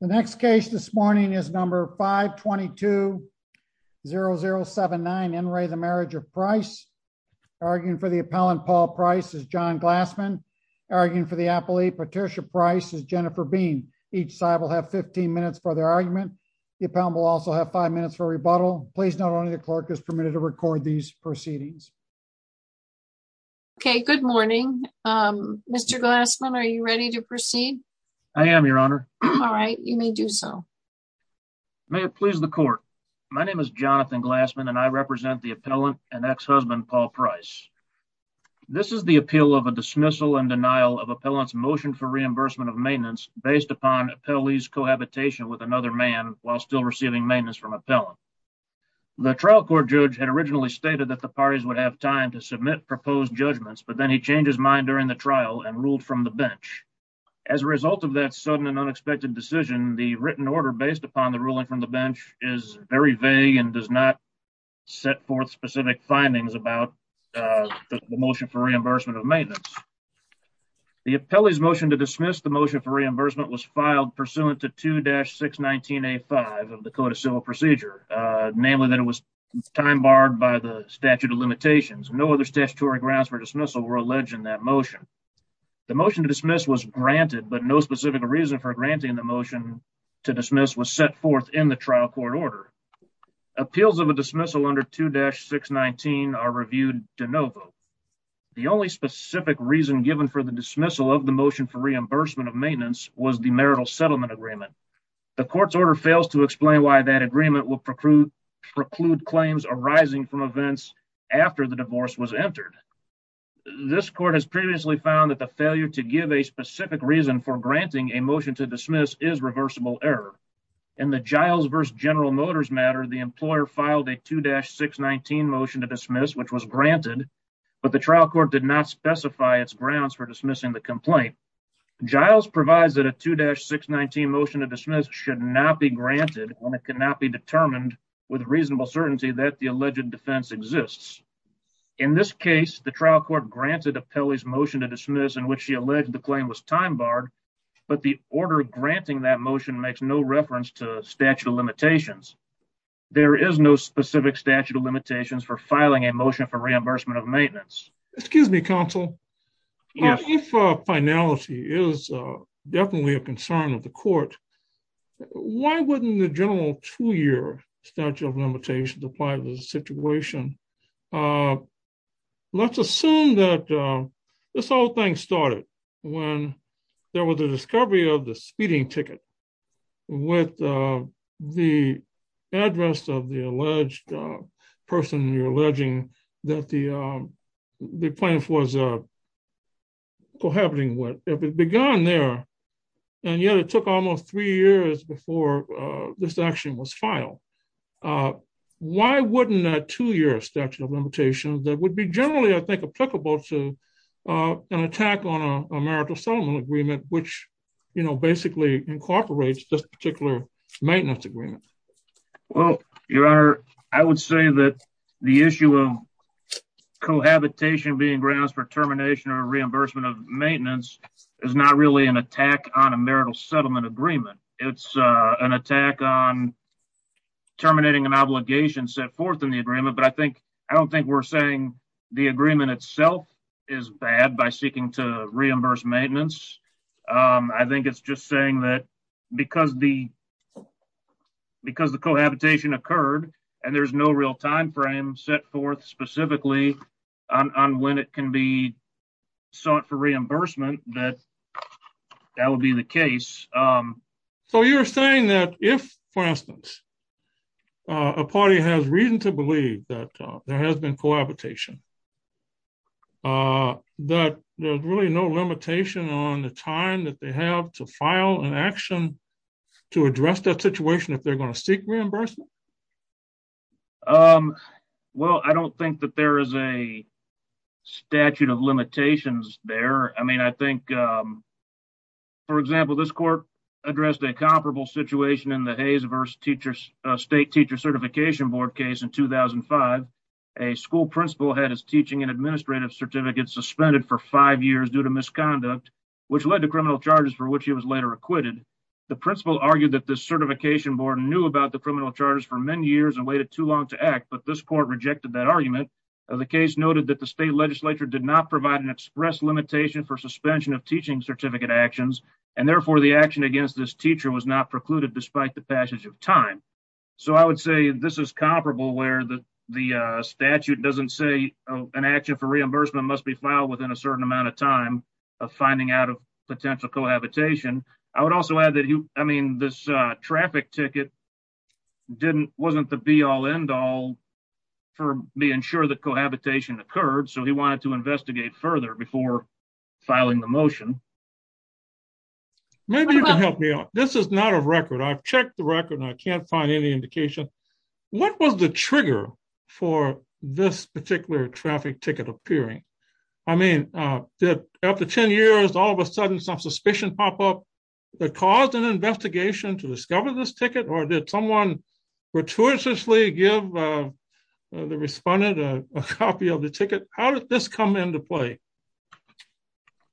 The next case this morning is number 522-0079, Enray, the Marriage of Price. Arguing for the appellant, Paul Price, is John Glassman. Arguing for the appellate, Patricia Price, is Jennifer Bean. Each side will have 15 minutes for their argument. The appellant will also have 5 minutes for rebuttal. Please note only the clerk is permitted to record these proceedings. Okay, good morning. Mr. Glassman, are you ready to proceed? I am, Your Honor. All right, you may do so. May it please the court, my name is Jonathan Glassman and I represent the appellant and ex-husband, Paul Price. This is the appeal of a dismissal and denial of appellant's motion for reimbursement of maintenance based upon appellee's cohabitation with another man while still receiving maintenance from appellant. The trial court judge had originally stated that the parties would have time to submit proposed judgments, but then he changed his mind during the trial and ruled from the bench. As a result of that sudden and unexpected decision, the written order based upon the ruling from the bench is very vague and does not set forth specific findings about the motion for reimbursement of maintenance. The appellee's motion to dismiss the motion for reimbursement was filed pursuant to 2-619A5 of the Code of Civil Procedure, namely that it was time barred by the statute of limitations. No other statutory grounds for dismissal were alleged in that motion. The motion to dismiss was granted, but no specific reason for granting the motion to dismiss was set forth in the trial court order. Appeals of a dismissal under 2-619 are reviewed de novo. The only specific reason given for the dismissal of the motion for reimbursement of maintenance was the marital settlement agreement. The court's order fails to explain why that agreement would preclude claims arising from events after the divorce was entered. This court has previously found that the failure to give a specific reason for granting a motion to dismiss is reversible error. In the Giles v. General Motors matter, the employer filed a 2-619 motion to dismiss, which was granted, but the trial court did not specify its grounds for dismissing the complaint. Giles provides that a 2-619 motion to dismiss should not be granted when it cannot be determined with reasonable certainty that the alleged defense exists. In this case, the trial court granted Apelli's motion to dismiss in which she alleged the claim was time-barred, but the order granting that motion makes no reference to statute of limitations. There is no specific statute of limitations for filing a motion for reimbursement of maintenance. Excuse me, counsel. If finality is definitely a concern of the court, why wouldn't the general two-year statute of limitations apply to the situation? Let's assume that this whole thing started when there was a discovery of the speeding ticket with the address of the alleged person you're alleging that the plaintiff was cohabiting with. If it began there, and yet it took almost three years before this action was filed, why wouldn't a two-year statute of limitations that would be generally, I think, applicable to an attack on a marital settlement agreement, which basically incorporates this particular maintenance agreement? Well, Your Honor, I would say that the issue of cohabitation being grounds for termination or reimbursement of maintenance is not really an attack on a marital settlement agreement. It's an attack on terminating an obligation set forth in the agreement, but I don't think we're saying the agreement itself is bad by seeking to reimburse maintenance. I think it's just saying that because the cohabitation occurred and there's no real time frame set forth specifically on when it can be sought for reimbursement, that that would be the case. So you're saying that if, for instance, a party has reason to believe that there has been cohabitation, that there's really no limitation on the time that they have to file an action to address that situation if they're going to seek reimbursement? Well, I don't think that there is a statute of limitations there. I mean, I think, for example, this court addressed a comparable situation in the Hayes v. State Teacher Certification Board case in 2005. A school principal had his teaching and administrative certificate suspended for five years due to The principal argued that the certification board knew about the criminal charges for many years and waited too long to act, but this court rejected that argument. The case noted that the state legislature did not provide an express limitation for suspension of teaching certificate actions, and therefore the action against this teacher was not precluded despite the passage of time. So I would say this is comparable where the statute doesn't say an action for reimbursement must be filed within a certain amount of time of finding out of potential cohabitation. I would also add that, I mean, this traffic ticket wasn't the be-all end-all for being sure that cohabitation occurred, so he wanted to investigate further before filing the motion. Maybe you can help me out. This is not a record. I've checked the record and I can't find any indication. What was the trigger for this particular traffic ticket appearing? I mean, after 10 years, all of a sudden some suspicion pop up that caused an investigation to discover this ticket, or did someone gratuitously give the respondent a copy of the ticket? How did this come into play?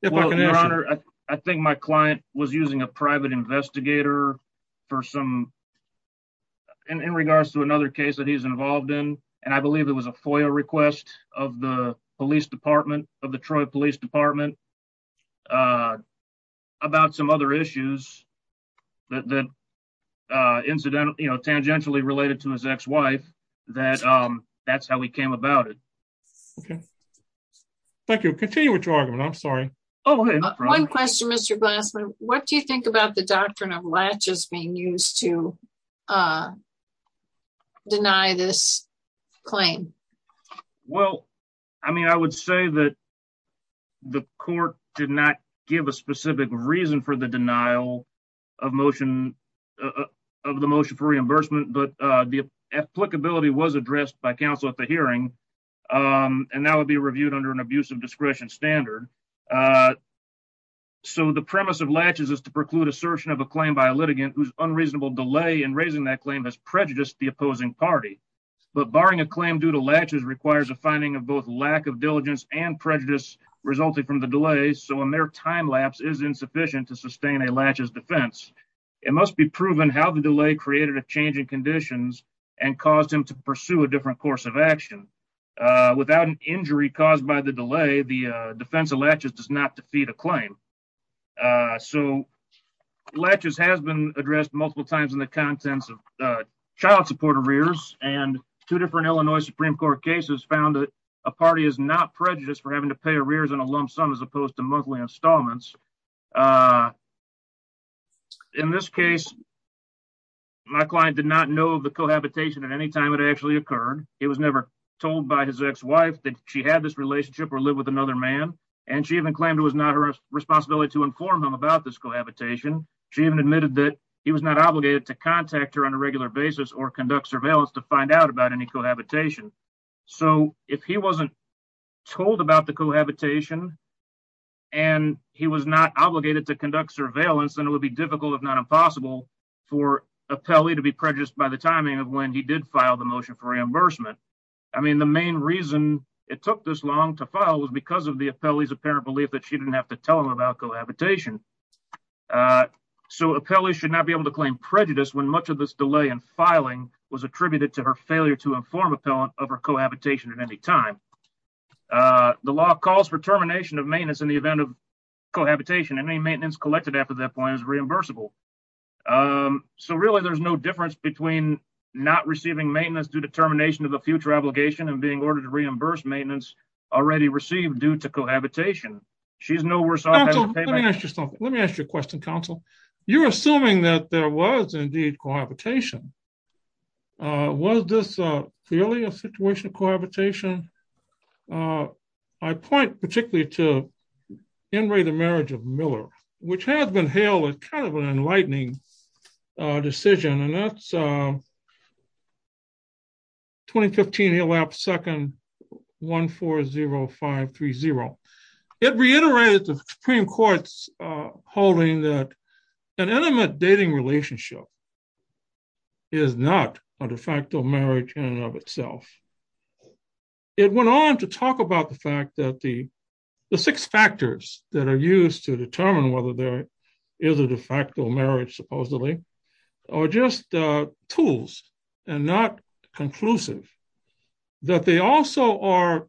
Well, your honor, I think my client was using a private investigator for some, in regards to another case that he's involved in, and I believe it was a FOIA request of the police department, of the Troy Police Department, about some other issues that incidentally, you know, tangentially related to his ex-wife, that that's how he came about it. Okay. Thank you. Continue with your argument. I'm sorry. Oh, go ahead. One question, Mr. Glassman. What do you think about the doctrine of latches being used to deny this claim? Well, I mean, I would say that the court did not give a specific reason for the denial of motion, of the motion for reimbursement, but the applicability was addressed by counsel at the hearing, and that would be reviewed under an abuse of discretion standard. So the premise of latches is to preclude assertion of a claim by a litigant whose unreasonable delay in raising that claim has prejudiced the opposing party. But barring a claim due to latches requires a finding of both lack of diligence and prejudice resulting from the delay, so a mere time lapse is insufficient to sustain a latches defense. It must be proven how the delay created a change in conditions and caused him to pursue a different course of action. Without an injury caused by the delay, the defense of latches does not defeat a claim. So, latches has been addressed multiple times in the contents of child support arrears, and two different Illinois Supreme Court cases found that a party is not prejudiced for having to pay arrears in a lump sum as opposed to monthly installments. In this case, my client did not know of the cohabitation at any time it actually occurred. It was never told by his ex-wife that she had this relationship or lived with another man, and she even claimed it was not her responsibility to inform him about this cohabitation. She even admitted that he was not obligated to contact her on a regular basis or conduct surveillance to find out about any cohabitation. So if he wasn't told about the cohabitation and he was not obligated to conduct surveillance, then it would be difficult, if not impossible, for Apelli to be prejudiced by the timing of when he did file the motion for reimbursement. I mean, the main reason it took this long to file was because of the Apelli's apparent belief that she didn't have to tell him about cohabitation. So Apelli should not be able to claim prejudice when much of this delay in filing was attributed to her failure to inform appellant of her cohabitation at any time. The law calls for termination of maintenance in the event of cohabitation, and any maintenance collected after that point is reimbursable. So really there's no difference between not receiving maintenance due to termination of a future obligation and being ordered to reimburse maintenance already received due to cohabitation. She's no worse off having to pay back- Counsel, let me ask you something. Let me ask you a question, counsel. You're assuming that there was indeed cohabitation. Was this clearly a situation of cohabitation? I point particularly to Enri, the marriage of Miller, which has been hailed as kind of an enlightening decision, and that's 2015 elapsed second 140530. It reiterated the Supreme Court's holding that an intimate dating relationship is not a de facto marriage in and of itself. It went on to talk about the fact that the six factors that are used to determine whether there is a de facto marriage supposedly are just tools and not conclusive, that they also are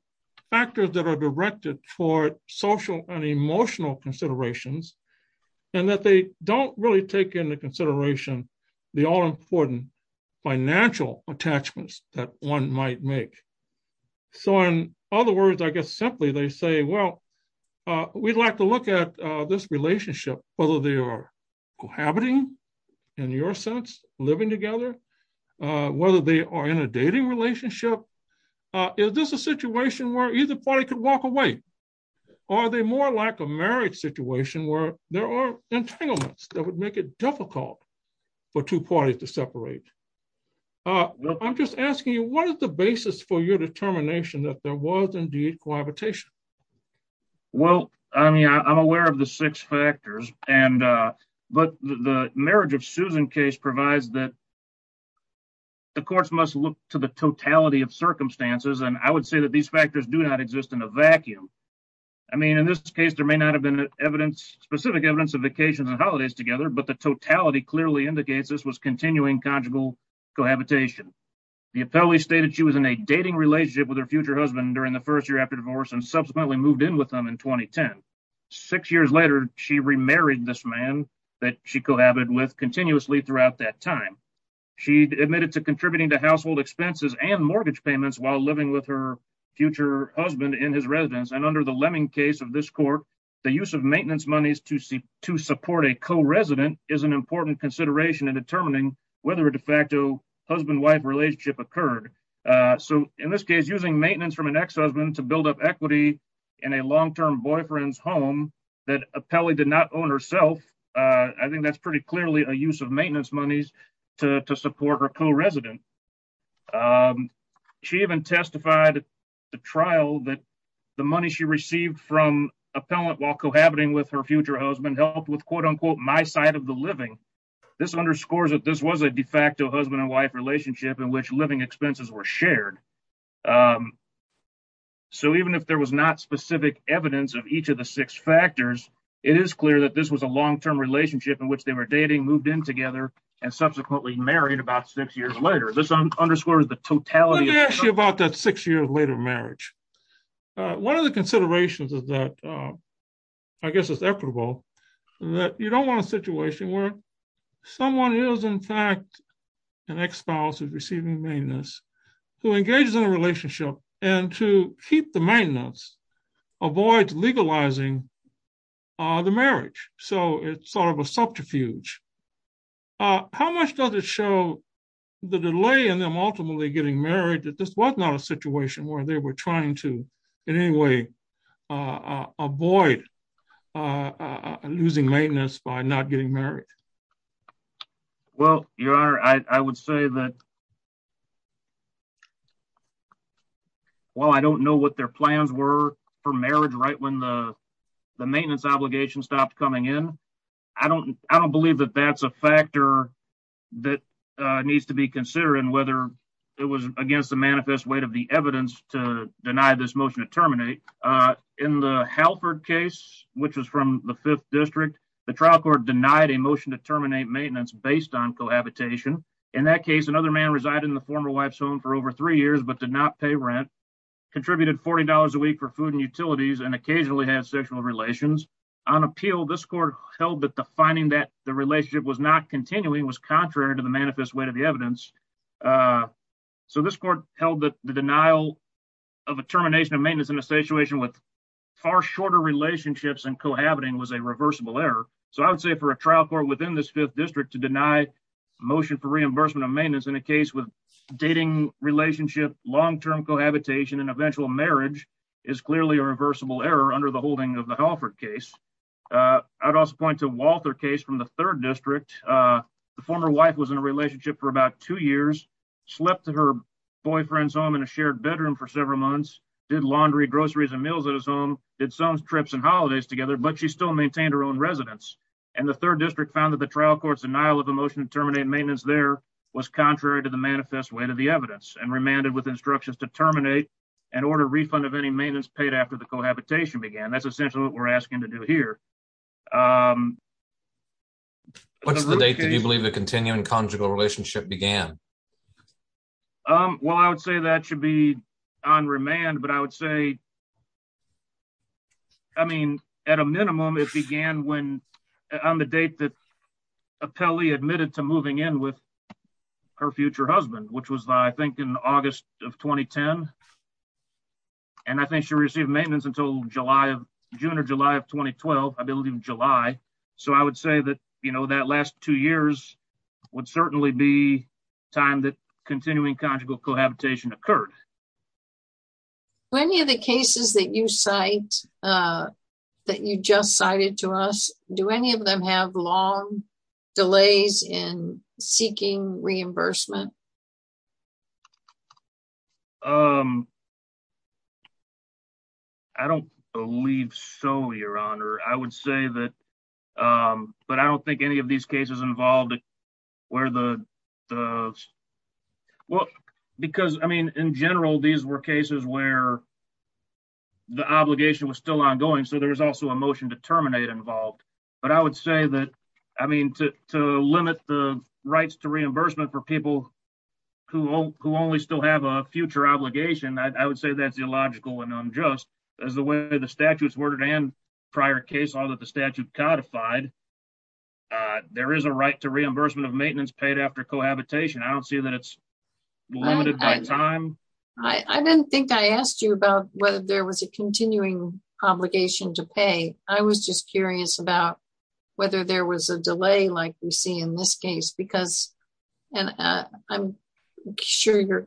factors that are directed for social and emotional considerations, and that they don't really take into consideration the all-important financial attachments that one might make. So, in other words, I guess simply they say, well, we'd like to look at this relationship, whether they are cohabiting in your sense, living together, whether they are in a dating relationship, is this a situation where either party could walk away, or are they more like a marriage situation where there are entanglements that would make it difficult for two parties to separate? I'm just asking you, what is the basis for your determination that there was indeed cohabitation? Well, I mean, I'm aware of the six factors, but the marriage of Susan case provides that the courts must look to the totality of circumstances, and I would say that these factors do not exist in a vacuum. I mean, in this case, there may not have been evidence, specific evidence of vacations and cohabitation. The appellee stated she was in a dating relationship with her future husband during the first year after divorce, and subsequently moved in with him in 2010. Six years later, she remarried this man that she cohabited with continuously throughout that time. She admitted to contributing to household expenses and mortgage payments while living with her future husband in his residence, and under the Lemming case of this court, the use of maintenance monies to support a co-resident is an important consideration in determining whether a de facto husband-wife relationship occurred. So in this case, using maintenance from an ex-husband to build up equity in a long-term boyfriend's home that appellee did not own herself, I think that's pretty clearly a use of maintenance monies to support her co-resident. She even testified at the trial that the money she received from appellant while cohabiting with her future husband helped with, quote unquote, my side of the living. This underscores that this was a de facto husband-and-wife relationship in which living expenses were shared. So even if there was not specific evidence of each of the six factors, it is clear that this was a long-term relationship in which they were dating, moved in together, and subsequently married about six years later. This underscores the totality of the case. Let me ask you about that six years later marriage. One of the considerations is that, I guess it's equitable, that you don't want a situation where someone is, in fact, an ex-spouse who's receiving maintenance, who engages in a relationship and to keep the maintenance avoids legalizing the marriage. So it's sort of a subterfuge. How much does it show the delay in them ultimately getting married that this was not a situation where they were trying to, in any way, avoid losing maintenance by not getting married? Well, Your Honor, I would say that while I don't know what their plans were for marriage right when the maintenance obligation stopped coming in, I don't believe that that's a factor that needs to be considered and whether it was against the manifest weight of the evidence to deny this motion to terminate. In the Halford case, which was from the Fifth District, the trial court denied a motion to terminate maintenance based on cohabitation. In that case, another man resided in the former wife's home for over three years but did not pay rent, contributed $40 a week for food and utilities, and occasionally had sexual relations. On appeal, this court held that the finding that the relationship was not continuing was contrary to the manifest weight of the evidence. So this court held that the denial of a termination of maintenance in a situation with far shorter relationships and cohabiting was a reversible error. So I would say for a trial court within this Fifth District to deny motion for reimbursement of maintenance in a case with dating relationship, long-term cohabitation, and eventual marriage is clearly a reversible error under the holding of the Halford case. I would also point to the Walter case from the Third District. The former wife was in a relationship for about two years, slept at her boyfriend's home in a shared bedroom for several months, did laundry, groceries, and meals at his home, did some trips and holidays together, but she still maintained her own residence. And the Third District found that the trial court's denial of a motion to terminate maintenance there was contrary to the manifest weight of the evidence and remanded with instructions to terminate and order refund of any maintenance paid after the cohabitation began. That's essentially what we're asking to do here. What's the date that you believe the continuing conjugal relationship began? Well, I would say that should be on remand, but I would say, I mean, at a minimum it began when on the date that Apelli admitted to moving in with her future husband, which was I think in August of 2010. And I think she received maintenance until July of June or July of 2012, I believe July. So I would say that, you know, that last two years would certainly be time that continuing conjugal cohabitation occurred. Do any of the cases that you cite, that you just cited to us, do any of them have long seeking reimbursement? I don't believe so, Your Honor, I would say that, but I don't think any of these cases involved where the, well, because I mean, in general, these were cases where the obligation was still ongoing. So there was also a motion to terminate involved, but I would say that, I mean, to limit the reimbursement for people who only still have a future obligation, I would say that's illogical and unjust as the way the statute's worded and prior case, although the statute codified, there is a right to reimbursement of maintenance paid after cohabitation. I don't see that it's limited by time. I didn't think I asked you about whether there was a continuing obligation to pay. I was just curious about whether there was a delay like we see in this case, because, and I'm sure your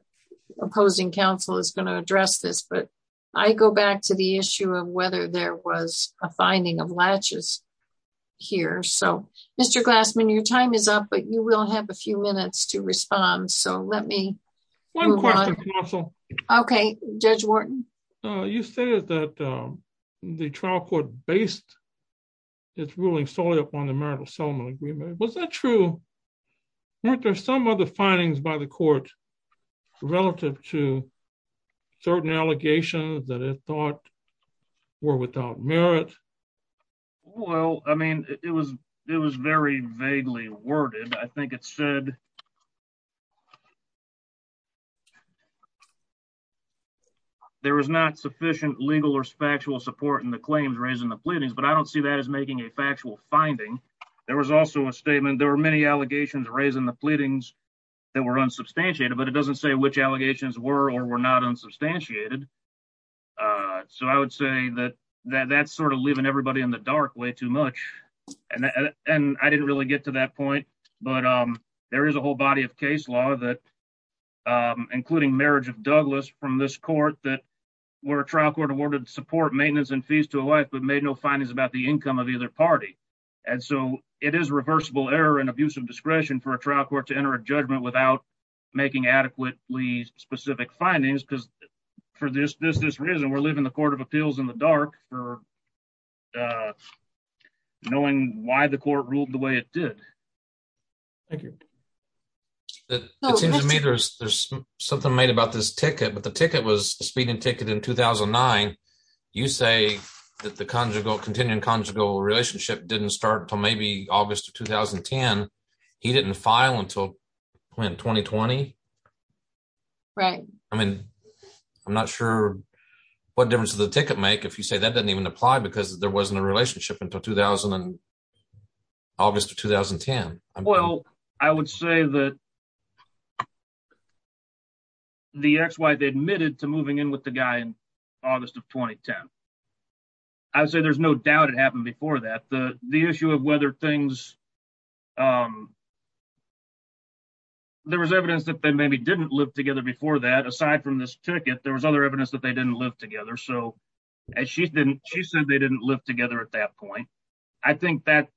opposing counsel is going to address this, but I go back to the issue of whether there was a finding of latches here. So Mr. Glassman, your time is up, but you will have a few minutes to respond. So let me move on. One question, counsel. Okay. Judge Wharton. You stated that the trial court based its ruling solely upon the marital settlement agreement. Was that true? Weren't there some other findings by the court relative to certain allegations that it thought were without merit? Well, I mean, it was very vaguely worded. I think it said there was not sufficient legal or factual support in the claims raising the pleadings, but I don't see that as making a factual finding. There was also a statement. There were many allegations raising the pleadings that were unsubstantiated, but it doesn't say which allegations were or were not unsubstantiated. So I would say that that's sort of leaving everybody in the dark way too much. And I didn't really get to that point, but there is a whole body of case law that, including marriage of Douglas from this court, that where a trial court awarded support, maintenance and fees to a wife, but made no findings about the income of either party. And so it is reversible error and abuse of discretion for a trial court to enter a judgment without making adequately specific findings. Because for this reason, we're leaving the court of appeals in the dark for knowing why the court ruled the way it did. Thank you. It seems to me there's something made about this ticket, but the ticket was a speeding ticket in 2009. You say that the continuing conjugal relationship didn't start until maybe August of 2010. He didn't file until when, 2020? Right. I mean, I'm not sure what difference does the ticket make if you say that didn't even apply because there wasn't a relationship until 2000 and August of 2010. Well, I would say that the ex-wife admitted to moving in with the guy in August of 2010. I would say there's no doubt it happened before that. The issue of whether things, there was evidence that they maybe didn't live together before that, aside from this ticket, there was other evidence that they didn't live together. So as she said, they didn't live together at that point. I think that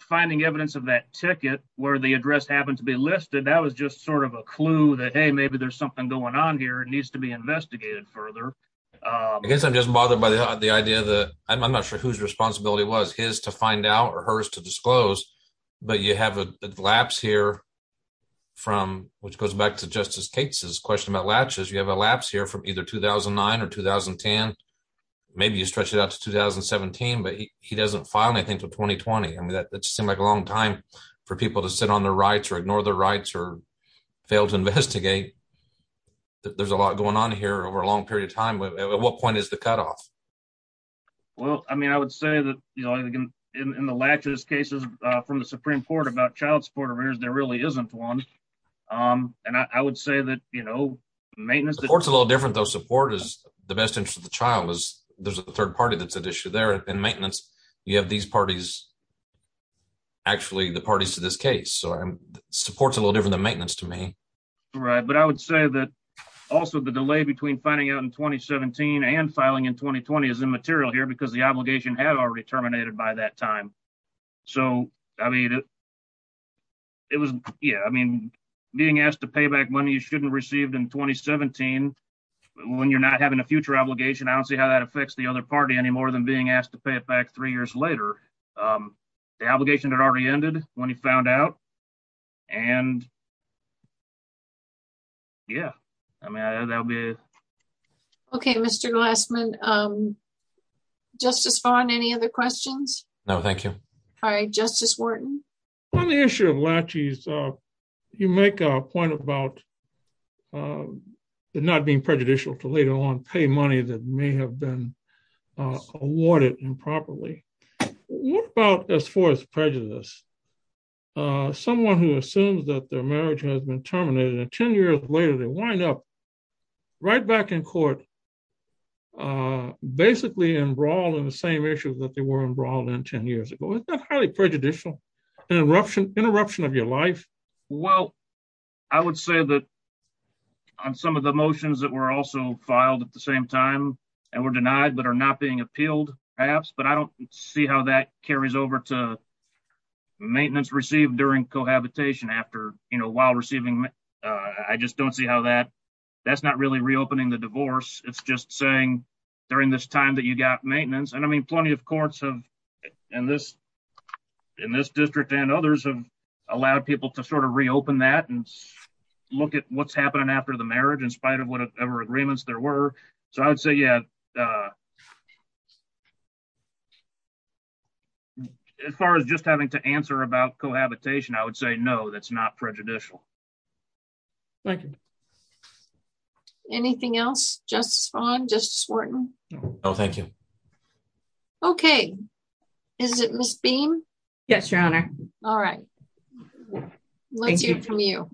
finding evidence of that ticket where the address happened to be listed, that was just sort of a clue that, hey, maybe there's something going on here, it needs to be investigated further. I guess I'm just bothered by the idea that, I'm not sure whose responsibility it was, his to find out or hers to disclose, but you have a lapse here from, which goes back to Justice Cates' question about latches. You have a lapse here from either 2009 or 2010. Maybe you stretch it out to 2017, but he doesn't file anything until 2020. I mean, that just seemed like a long time for people to sit on their rights or ignore their rights or fail to investigate. There's a lot going on here over a long period of time, but at what point is the cutoff? Well, I mean, I would say that, you know, in the latches cases from the Supreme Court about child support arrears, there really isn't one. And I would say that, you know, maintenance... Support's a little different though. Support is the best interest of the child. There's a third party that's at issue there and maintenance, you have these parties, actually the parties to this case. So support's a little different than maintenance to me. Right. But I would say that also the delay between finding out in 2017 and filing in 2020 is immaterial here because the obligation had already terminated by that time. So, I mean, it was, yeah, I mean, being asked to pay back money you shouldn't have received in 2017 when you're not having a future obligation, I don't see how that affects the other party any more than being asked to pay it back three years later. The obligation had already ended when he found out and yeah, I mean, that'll be it. Okay. Mr. Glassman, Justice Farr and any other questions? No, thank you. All right. Justice Wharton. On the issue of laches, you make a point about it not being prejudicial to later on pay money that may have been awarded improperly. What about as far as prejudice? Someone who assumes that their marriage has been terminated and 10 years later they wind up right back in court, basically embroiled in the same issues that they were embroiled in 10 years ago. Isn't that highly prejudicial, an interruption of your life? Well, I would say that on some of the motions that were also filed at the same time and were denied but are not being appealed perhaps, but I don't see how that carries over to maintenance received during cohabitation after, you know, while receiving, I just don't see how that's not really reopening the divorce. It's just saying during this time that you got maintenance and I mean, plenty of courts have in this district and others have allowed people to sort of reopen that and look at what's happening after the marriage in spite of whatever agreements there were. So I would say, yeah, as far as just having to answer about cohabitation, I would say no, that's not prejudicial. Thank you. Justice Vaughn? Justice Wharton? No. No, thank you. Okay. Is it Ms. Beam? Yes, Your Honor. All right. Thank you. Let's hear from you.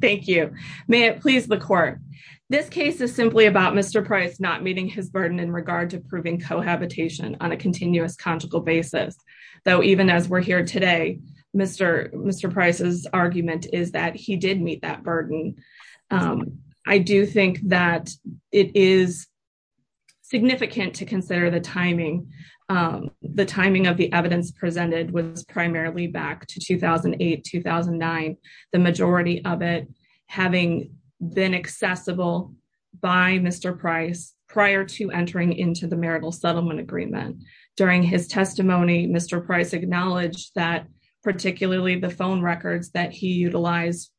Thank you. May it please the court. This case is simply about Mr. Price not meeting his burden in regard to proving cohabitation on a continuous conjugal basis. Though even as we're here today, Mr. Price's argument is that he did meet that burden. I do think that it is significant to consider the timing. The timing of the evidence presented was primarily back to 2008, 2009. The majority of it having been accessible by Mr. Price prior to entering into the marital settlement agreement. During his testimony, Mr. Price acknowledged that particularly the phone records that he utilized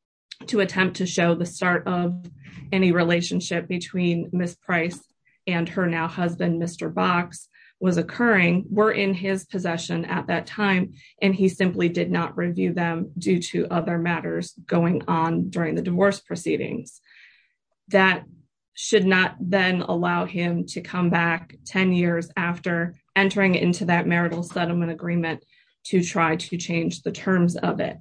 to attempt to show the start of any relationship between Ms. Price and her now husband, Mr. Box, was occurring, were in his possession at that time, and he simply did not review them due to other matters going on during the divorce proceedings. That should not then allow him to come back 10 years after entering into that marital settlement agreement to try to change the terms of it.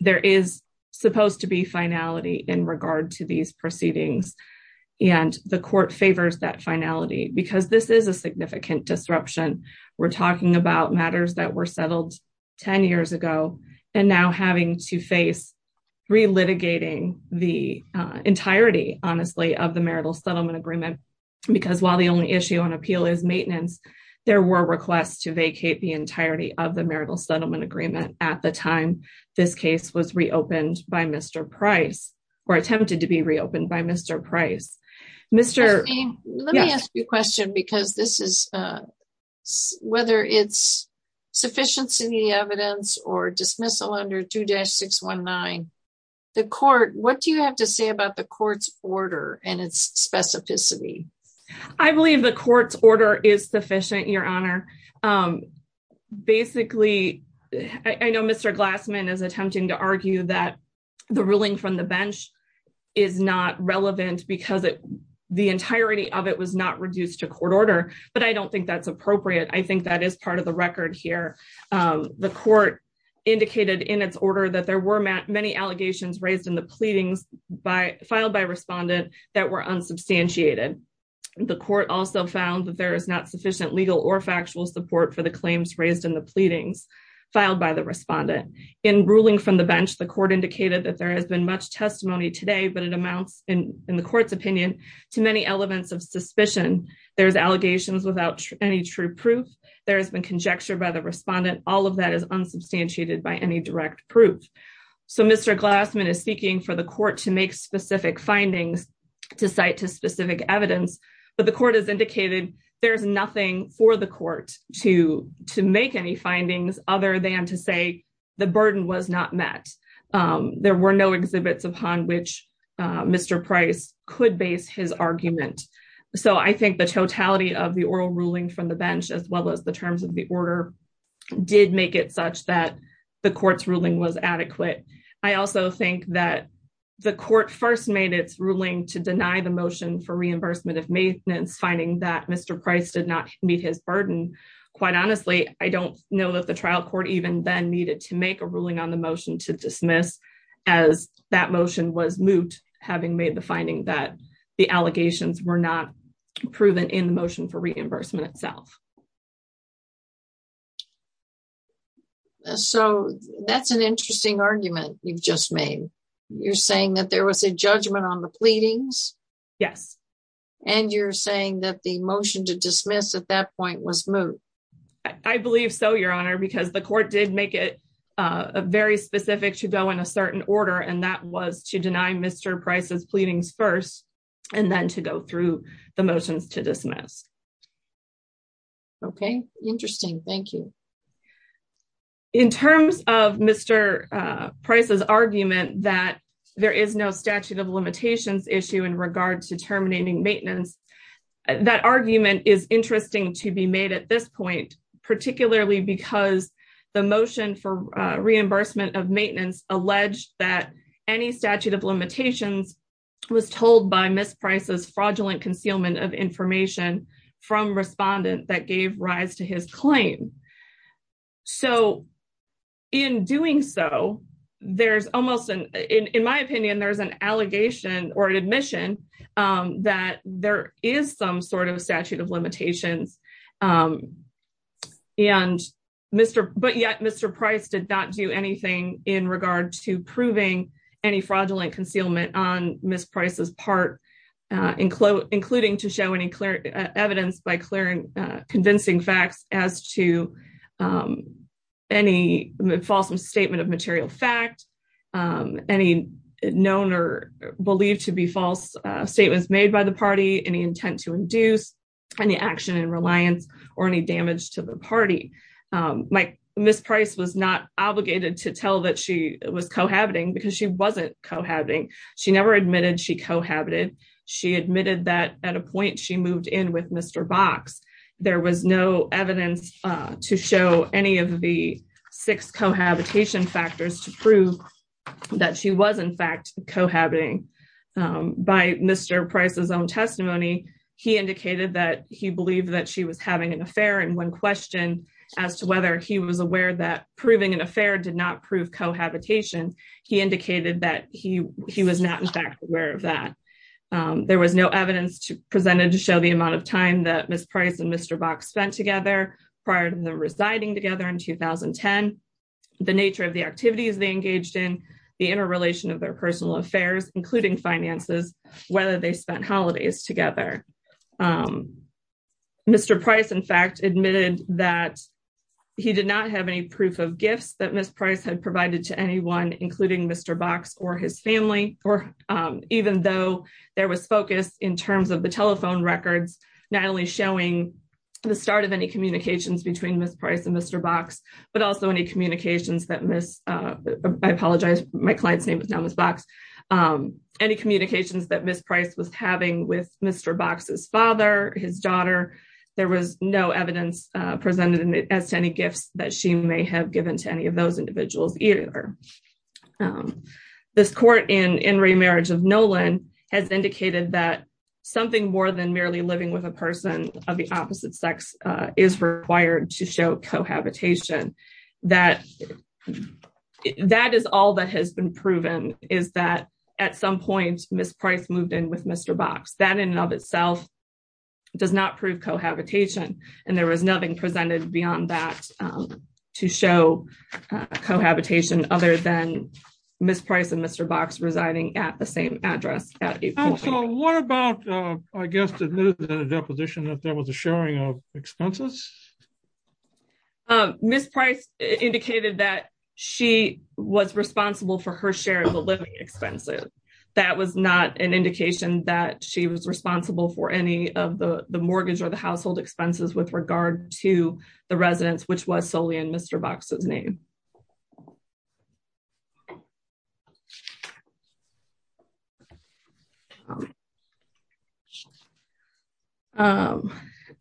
There is supposed to be finality in regard to these proceedings, and the court favors that finality because this is a significant disruption. We're talking about matters that were settled 10 years ago and now having to face relitigating the entirety, honestly, of the marital settlement agreement because while the only issue on appeal is maintenance, there were requests to vacate the entirety of the marital settlement agreement at the time this case was reopened by Mr. Price or attempted to be reopened by Mr. Price. Let me ask you a question because whether it's sufficiency in the evidence or dismissal under 2-619, what do you have to say about the court's order and its specificity? I believe the court's order is sufficient, Your Honor. Basically, I know Mr. Glassman is attempting to argue that the ruling from the bench is not relevant because the entirety of it was not reduced to court order, but I don't think that's appropriate. I think that is part of the record here. The court indicated in its order that there were many allegations raised in the pleadings filed by respondent that were unsubstantiated. The court also found that there is not sufficient legal or factual support for the claims raised in the pleadings filed by the respondent. In ruling from the bench, the court indicated that there has been much testimony today, but it amounts, in the court's opinion, to many elements of suspicion. There's allegations without any true proof. There has been conjecture by the respondent. All of that is unsubstantiated by any direct proof. So Mr. Glassman is seeking for the court to make specific findings to cite to specific evidence, but the court has indicated there's nothing for the court to make any findings other than to say the burden was not met. There were no exhibits upon which Mr. Price could base his argument. So I think the totality of the oral ruling from the bench, as well as the terms of the order, did make it such that the court's ruling was adequate. I also think that the court first made its ruling to deny the motion for reimbursement of maintenance, finding that Mr. Price did not meet his burden. Quite honestly, I don't know that the trial court even then needed to make a ruling on the motion to dismiss, as that motion was moot, having made the finding that the allegations were not proven in the motion for reimbursement itself. So that's an interesting argument you've just made. You're saying that there was a judgment on the pleadings? Yes. And you're saying that the motion to dismiss at that point was moot? I believe so, Your Honor, because the court did make it very specific to go in a certain order, and that was to deny Mr. Price's pleadings first, and then to go through the motions to dismiss. Okay. Interesting. Thank you. In terms of Mr. Price's argument that there is no statute of limitations issue in regard to terminating maintenance, that argument is interesting to be made at this point, particularly because the motion for reimbursement of maintenance alleged that any statute of limitations was told by Ms. Price's fraudulent concealment of information from respondent that gave rise to his claim. So, in doing so, in my opinion, there's an allegation or an admission that there is some sort of statute of limitations, but yet Mr. Price did not do anything in regard to proving any fraudulent concealment on Ms. Price's part, including to show any evidence by convincing facts as to any false statement of material fact, any known or believed to be false statements made by the party, any intent to induce any action in reliance or any damage to the party. Ms. Price was not obligated to tell that she was cohabiting because she wasn't cohabiting. She never admitted she cohabited. She admitted that at a point she moved in with Mr. Box. There was no evidence to show any of the six cohabitation factors to prove that she was in fact cohabiting. By Mr. Price's own testimony, he indicated that he believed that she was having an affair and when questioned as to whether he was aware that proving an affair did not prove cohabitation, he indicated that he was not in fact aware of that. There was no evidence presented to show the amount of time that Ms. Price and Mr. Box spent together prior to them residing together in 2010, the nature of the activities they engaged in, the interrelation of their personal affairs, including finances, whether they spent holidays together. Mr. Price, in fact, admitted that he did not have any proof of gifts that Ms. Price had There was focus in terms of the telephone records, not only showing the start of any communications between Ms. Price and Mr. Box, but also any communications that Ms., I apologize, my client's name is now Ms. Box, any communications that Ms. Price was having with Mr. Box's father, his daughter. There was no evidence presented as to any gifts that she may have given to any of those individuals either. This court in remarriage of Nolan has indicated that something more than merely living with a person of the opposite sex is required to show cohabitation, that that is all that has been proven is that at some point, Ms. Price moved in with Mr. Box, that in and of itself does not prove cohabitation, and there was nothing presented beyond that to show cohabitation other than Ms. Price and Mr. Box residing at the same address. So what about, I guess, the deposition that there was a sharing of expenses? Ms. Price indicated that she was responsible for her share of the living expenses. That was not an indication that she was responsible for any of the mortgage or the residence, which was solely in Mr. Box's name.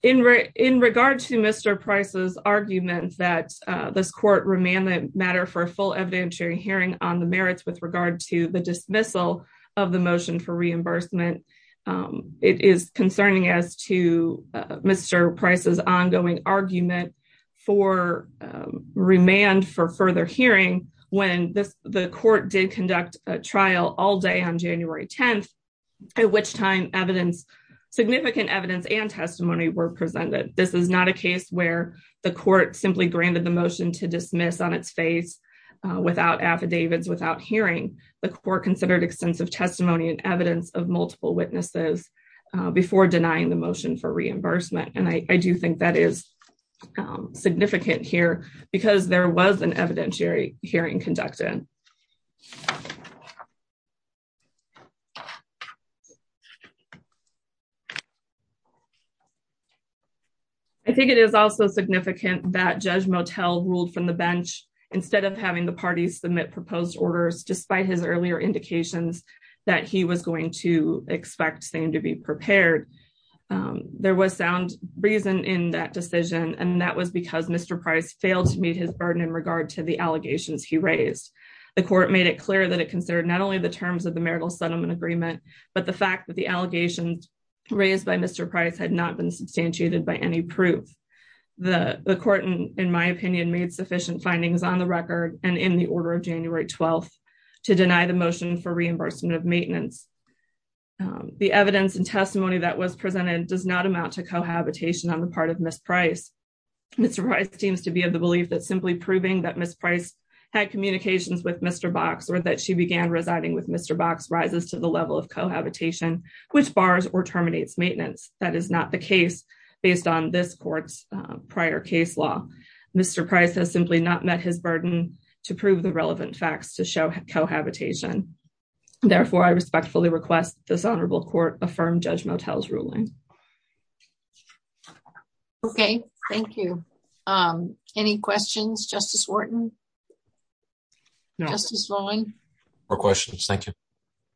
In regard to Mr. Price's argument that this court remanded matter for a full evidentiary hearing on the merits with regard to the dismissal of the motion for reimbursement, it is concerning as to Mr. Price's ongoing argument for remand for further hearing when the court did conduct a trial all day on January 10th, at which time evidence, significant evidence and testimony were presented. This is not a case where the court simply granted the motion to dismiss on its face without affidavits, without hearing. The court considered extensive testimony and evidence of multiple witnesses before denying the motion for reimbursement. And I do think that is significant here because there was an evidentiary hearing conducted. I think it is also significant that Judge Motel ruled from the bench instead of having the parties submit proposed orders, despite his earlier indications that he was going to expect them to be prepared. There was sound reason in that decision, and that was because Mr. Price failed to meet his burden in regard to the allegations he raised. The court made it clear that it considered not only the terms of the marital settlement agreement, but the fact that the allegations raised by Mr. Price had not been substantiated by any proof. The court, in my opinion, made sufficient findings on the record and in the order of January 12th to deny the motion for reimbursement of maintenance. The evidence and testimony that was presented does not amount to cohabitation on the part of Ms. Price. Mr. Price seems to be of the belief that simply proving that Ms. Price had communications with Mr. Box or that she began residing with Mr. Box rises to the level of cohabitation, which bars or terminates maintenance. That is not the case based on this court's prior case law. Mr. Price has simply not met his burden to prove the relevant facts to show cohabitation. Therefore, I respectfully request this honorable court affirm Judge Motel's ruling. Okay. Thank you. Um, any questions, Justice Wharton? Justice Rolling? No questions. Thank you.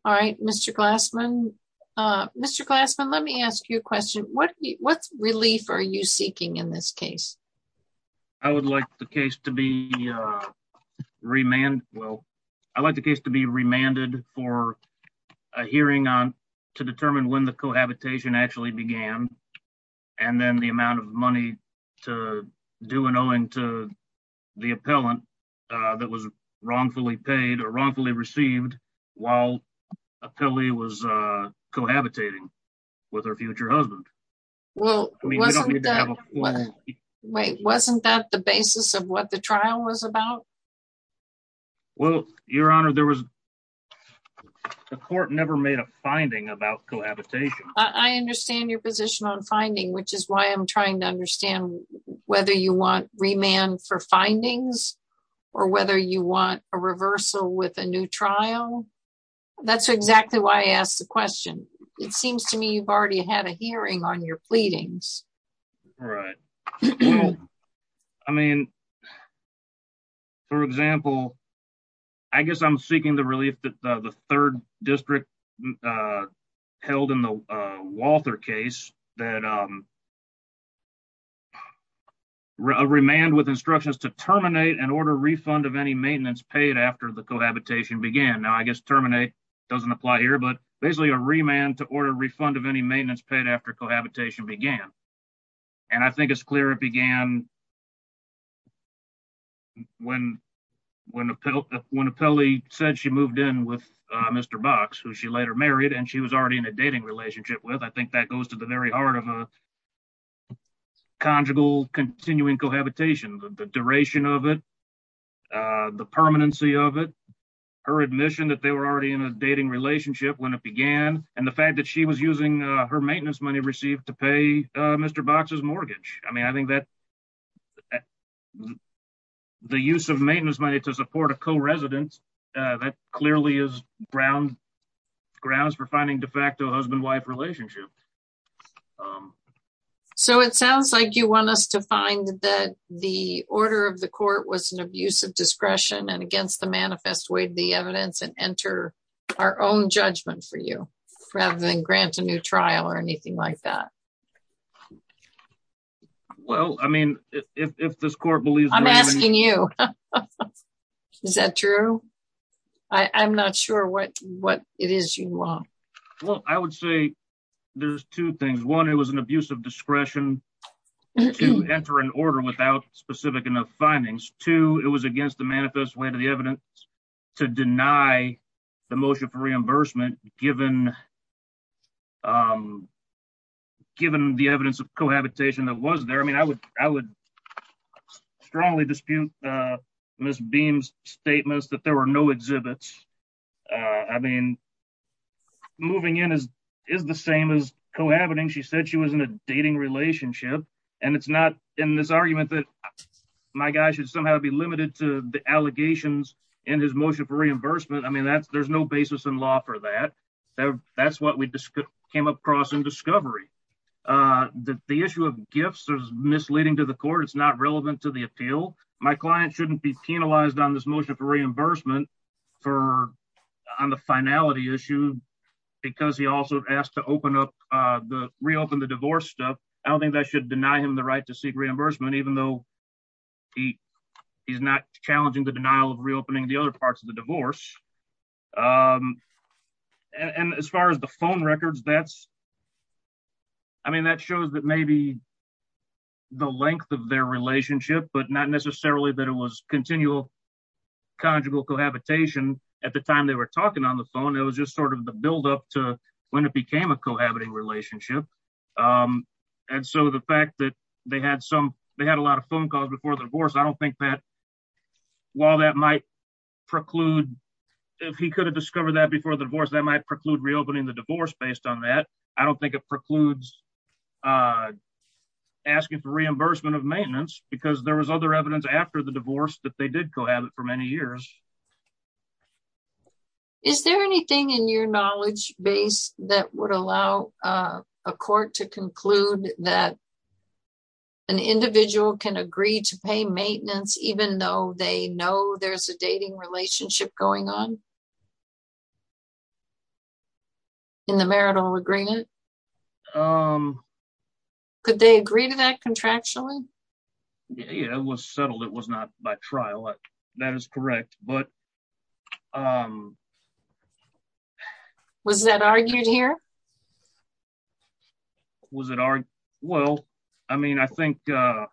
All right, Mr. Glassman. Uh, Mr. Glassman, let me ask you a question. What, what relief are you seeking in this case? I would like the case to be, uh, remand. Well, I'd like the case to be remanded for a hearing on, to determine when the cohabitation actually began and then the amount of money to do an owing to the appellant, uh, that was wrongfully paid or wrongfully received while a pilly was, uh, cohabitating with her future husband. Well, wait, wasn't that the basis of what the trial was about? Well, Your Honor, there was, the court never made a finding about cohabitation. I understand your position on finding, which is why I'm trying to understand whether you want remand for findings or whether you want a reversal with a new trial, that's exactly why I asked the question. It seems to me you've already had a hearing on your pleadings. Right. Well, I mean, for example, I guess I'm seeking the relief that the third district, uh, held in the, uh, Walther case that, um, a remand with instructions to terminate and order refund of any maintenance paid after the cohabitation began. Now I guess terminate doesn't apply here, but basically a remand to order refund of any maintenance paid after cohabitation began. And I think it's clear it began when, when, when a pill, when a pill, he said she moved in with Mr. Box, who she later married and she was already in a dating relationship with. I think that goes to the very heart of a conjugal continuing cohabitation, the duration of it, uh, the permanency of it, her admission that they were already in a dating relationship when it began and the fact that she was Mr. Box's mortgage. I mean, I think that the use of maintenance money to support a co-resident, uh, that clearly is ground grounds for finding de facto husband, wife relationship. Um, so it sounds like you want us to find that the order of the court was an abuse of discretion and against the manifest way, the evidence and enter our own judgment for you rather than grant a new trial or anything like that. Well, I mean, if, if, if this court believes, I'm asking you, is that true? I I'm not sure what, what it is you want. Well, I would say there's two things. One, it was an abuse of discretion to enter an order without specific enough findings to, it was against the manifest way to the evidence to deny the motion for reimbursement given, um, given the evidence of cohabitation that was there. I mean, I would, I would strongly dispute, uh, Ms. Beam's statements that there were no exhibits. Uh, I mean, moving in is, is the same as cohabiting. She said she was in a dating relationship and it's not in this argument that my guy should somehow be limited to the allegations in his motion for law for that, that that's what we came across in discovery. Uh, the, the issue of gifts is misleading to the court. It's not relevant to the appeal. My client shouldn't be penalized on this motion for reimbursement for on the finality issue, because he also asked to open up, uh, the reopen the divorce stuff. I don't think that should deny him the right to seek reimbursement, even though he, he's not challenging the denial of reopening the other parts of the and as far as the phone records, that's, I mean, that shows that maybe the length of their relationship, but not necessarily that it was continual. Conjugal cohabitation at the time they were talking on the phone. It was just sort of the buildup to when it became a cohabiting relationship. Um, and so the fact that they had some, they had a lot of phone calls before the divorce. I don't think that while that might preclude if he could have discovered that before the divorce, that might preclude reopening the divorce based on that. I don't think it precludes, uh, asking for reimbursement of maintenance because there was other evidence after the divorce that they did cohabit for many years. Is there anything in your knowledge base that would allow, uh, a court to conclude that an individual can agree to pay maintenance, even though they know there's a dating relationship going on? In the marital agreement. Um, could they agree to that contractually? Yeah, it was settled. It was not by trial. That is correct. But, um, was that argued here? Was it our, well, I mean, I think, uh,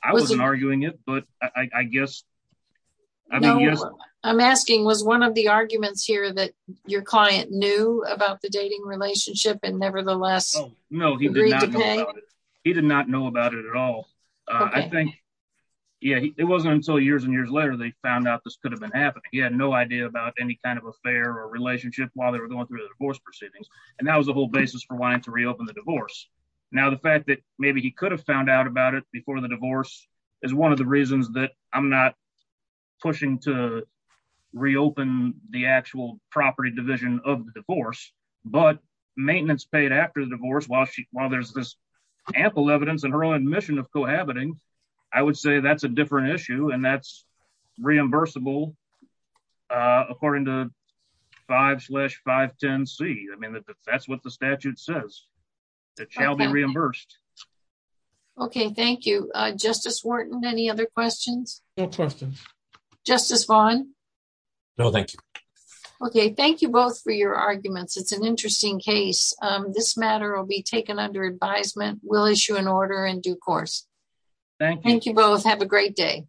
I wasn't arguing it, but I guess I'm asking was one of the arguments here that your client knew about the dating relationship and nevertheless, no, he did not know about it at all. Uh, I think, yeah, it wasn't until years and years later, they found out this could have been happening. He had no idea about any kind of affair or relationship while they were going through the divorce proceedings. And that was the whole basis for wanting to reopen the divorce. Now, the fact that maybe he could have found out about it before the open, the actual property division of the divorce, but maintenance paid after the divorce while she, while there's this ample evidence in her own admission of cohabiting, I would say that's a different issue and that's reimbursable, uh, according to five slash five, 10 C. I mean, that's what the statute says. It shall be reimbursed. Okay. Thank you. Uh, justice Wharton, any other questions? Justice Vaughn. No, thank you. Okay. Thank you both for your arguments. It's an interesting case. Um, this matter will be taken under advisement. We'll issue an order in due course. Thank you both. Have a great day.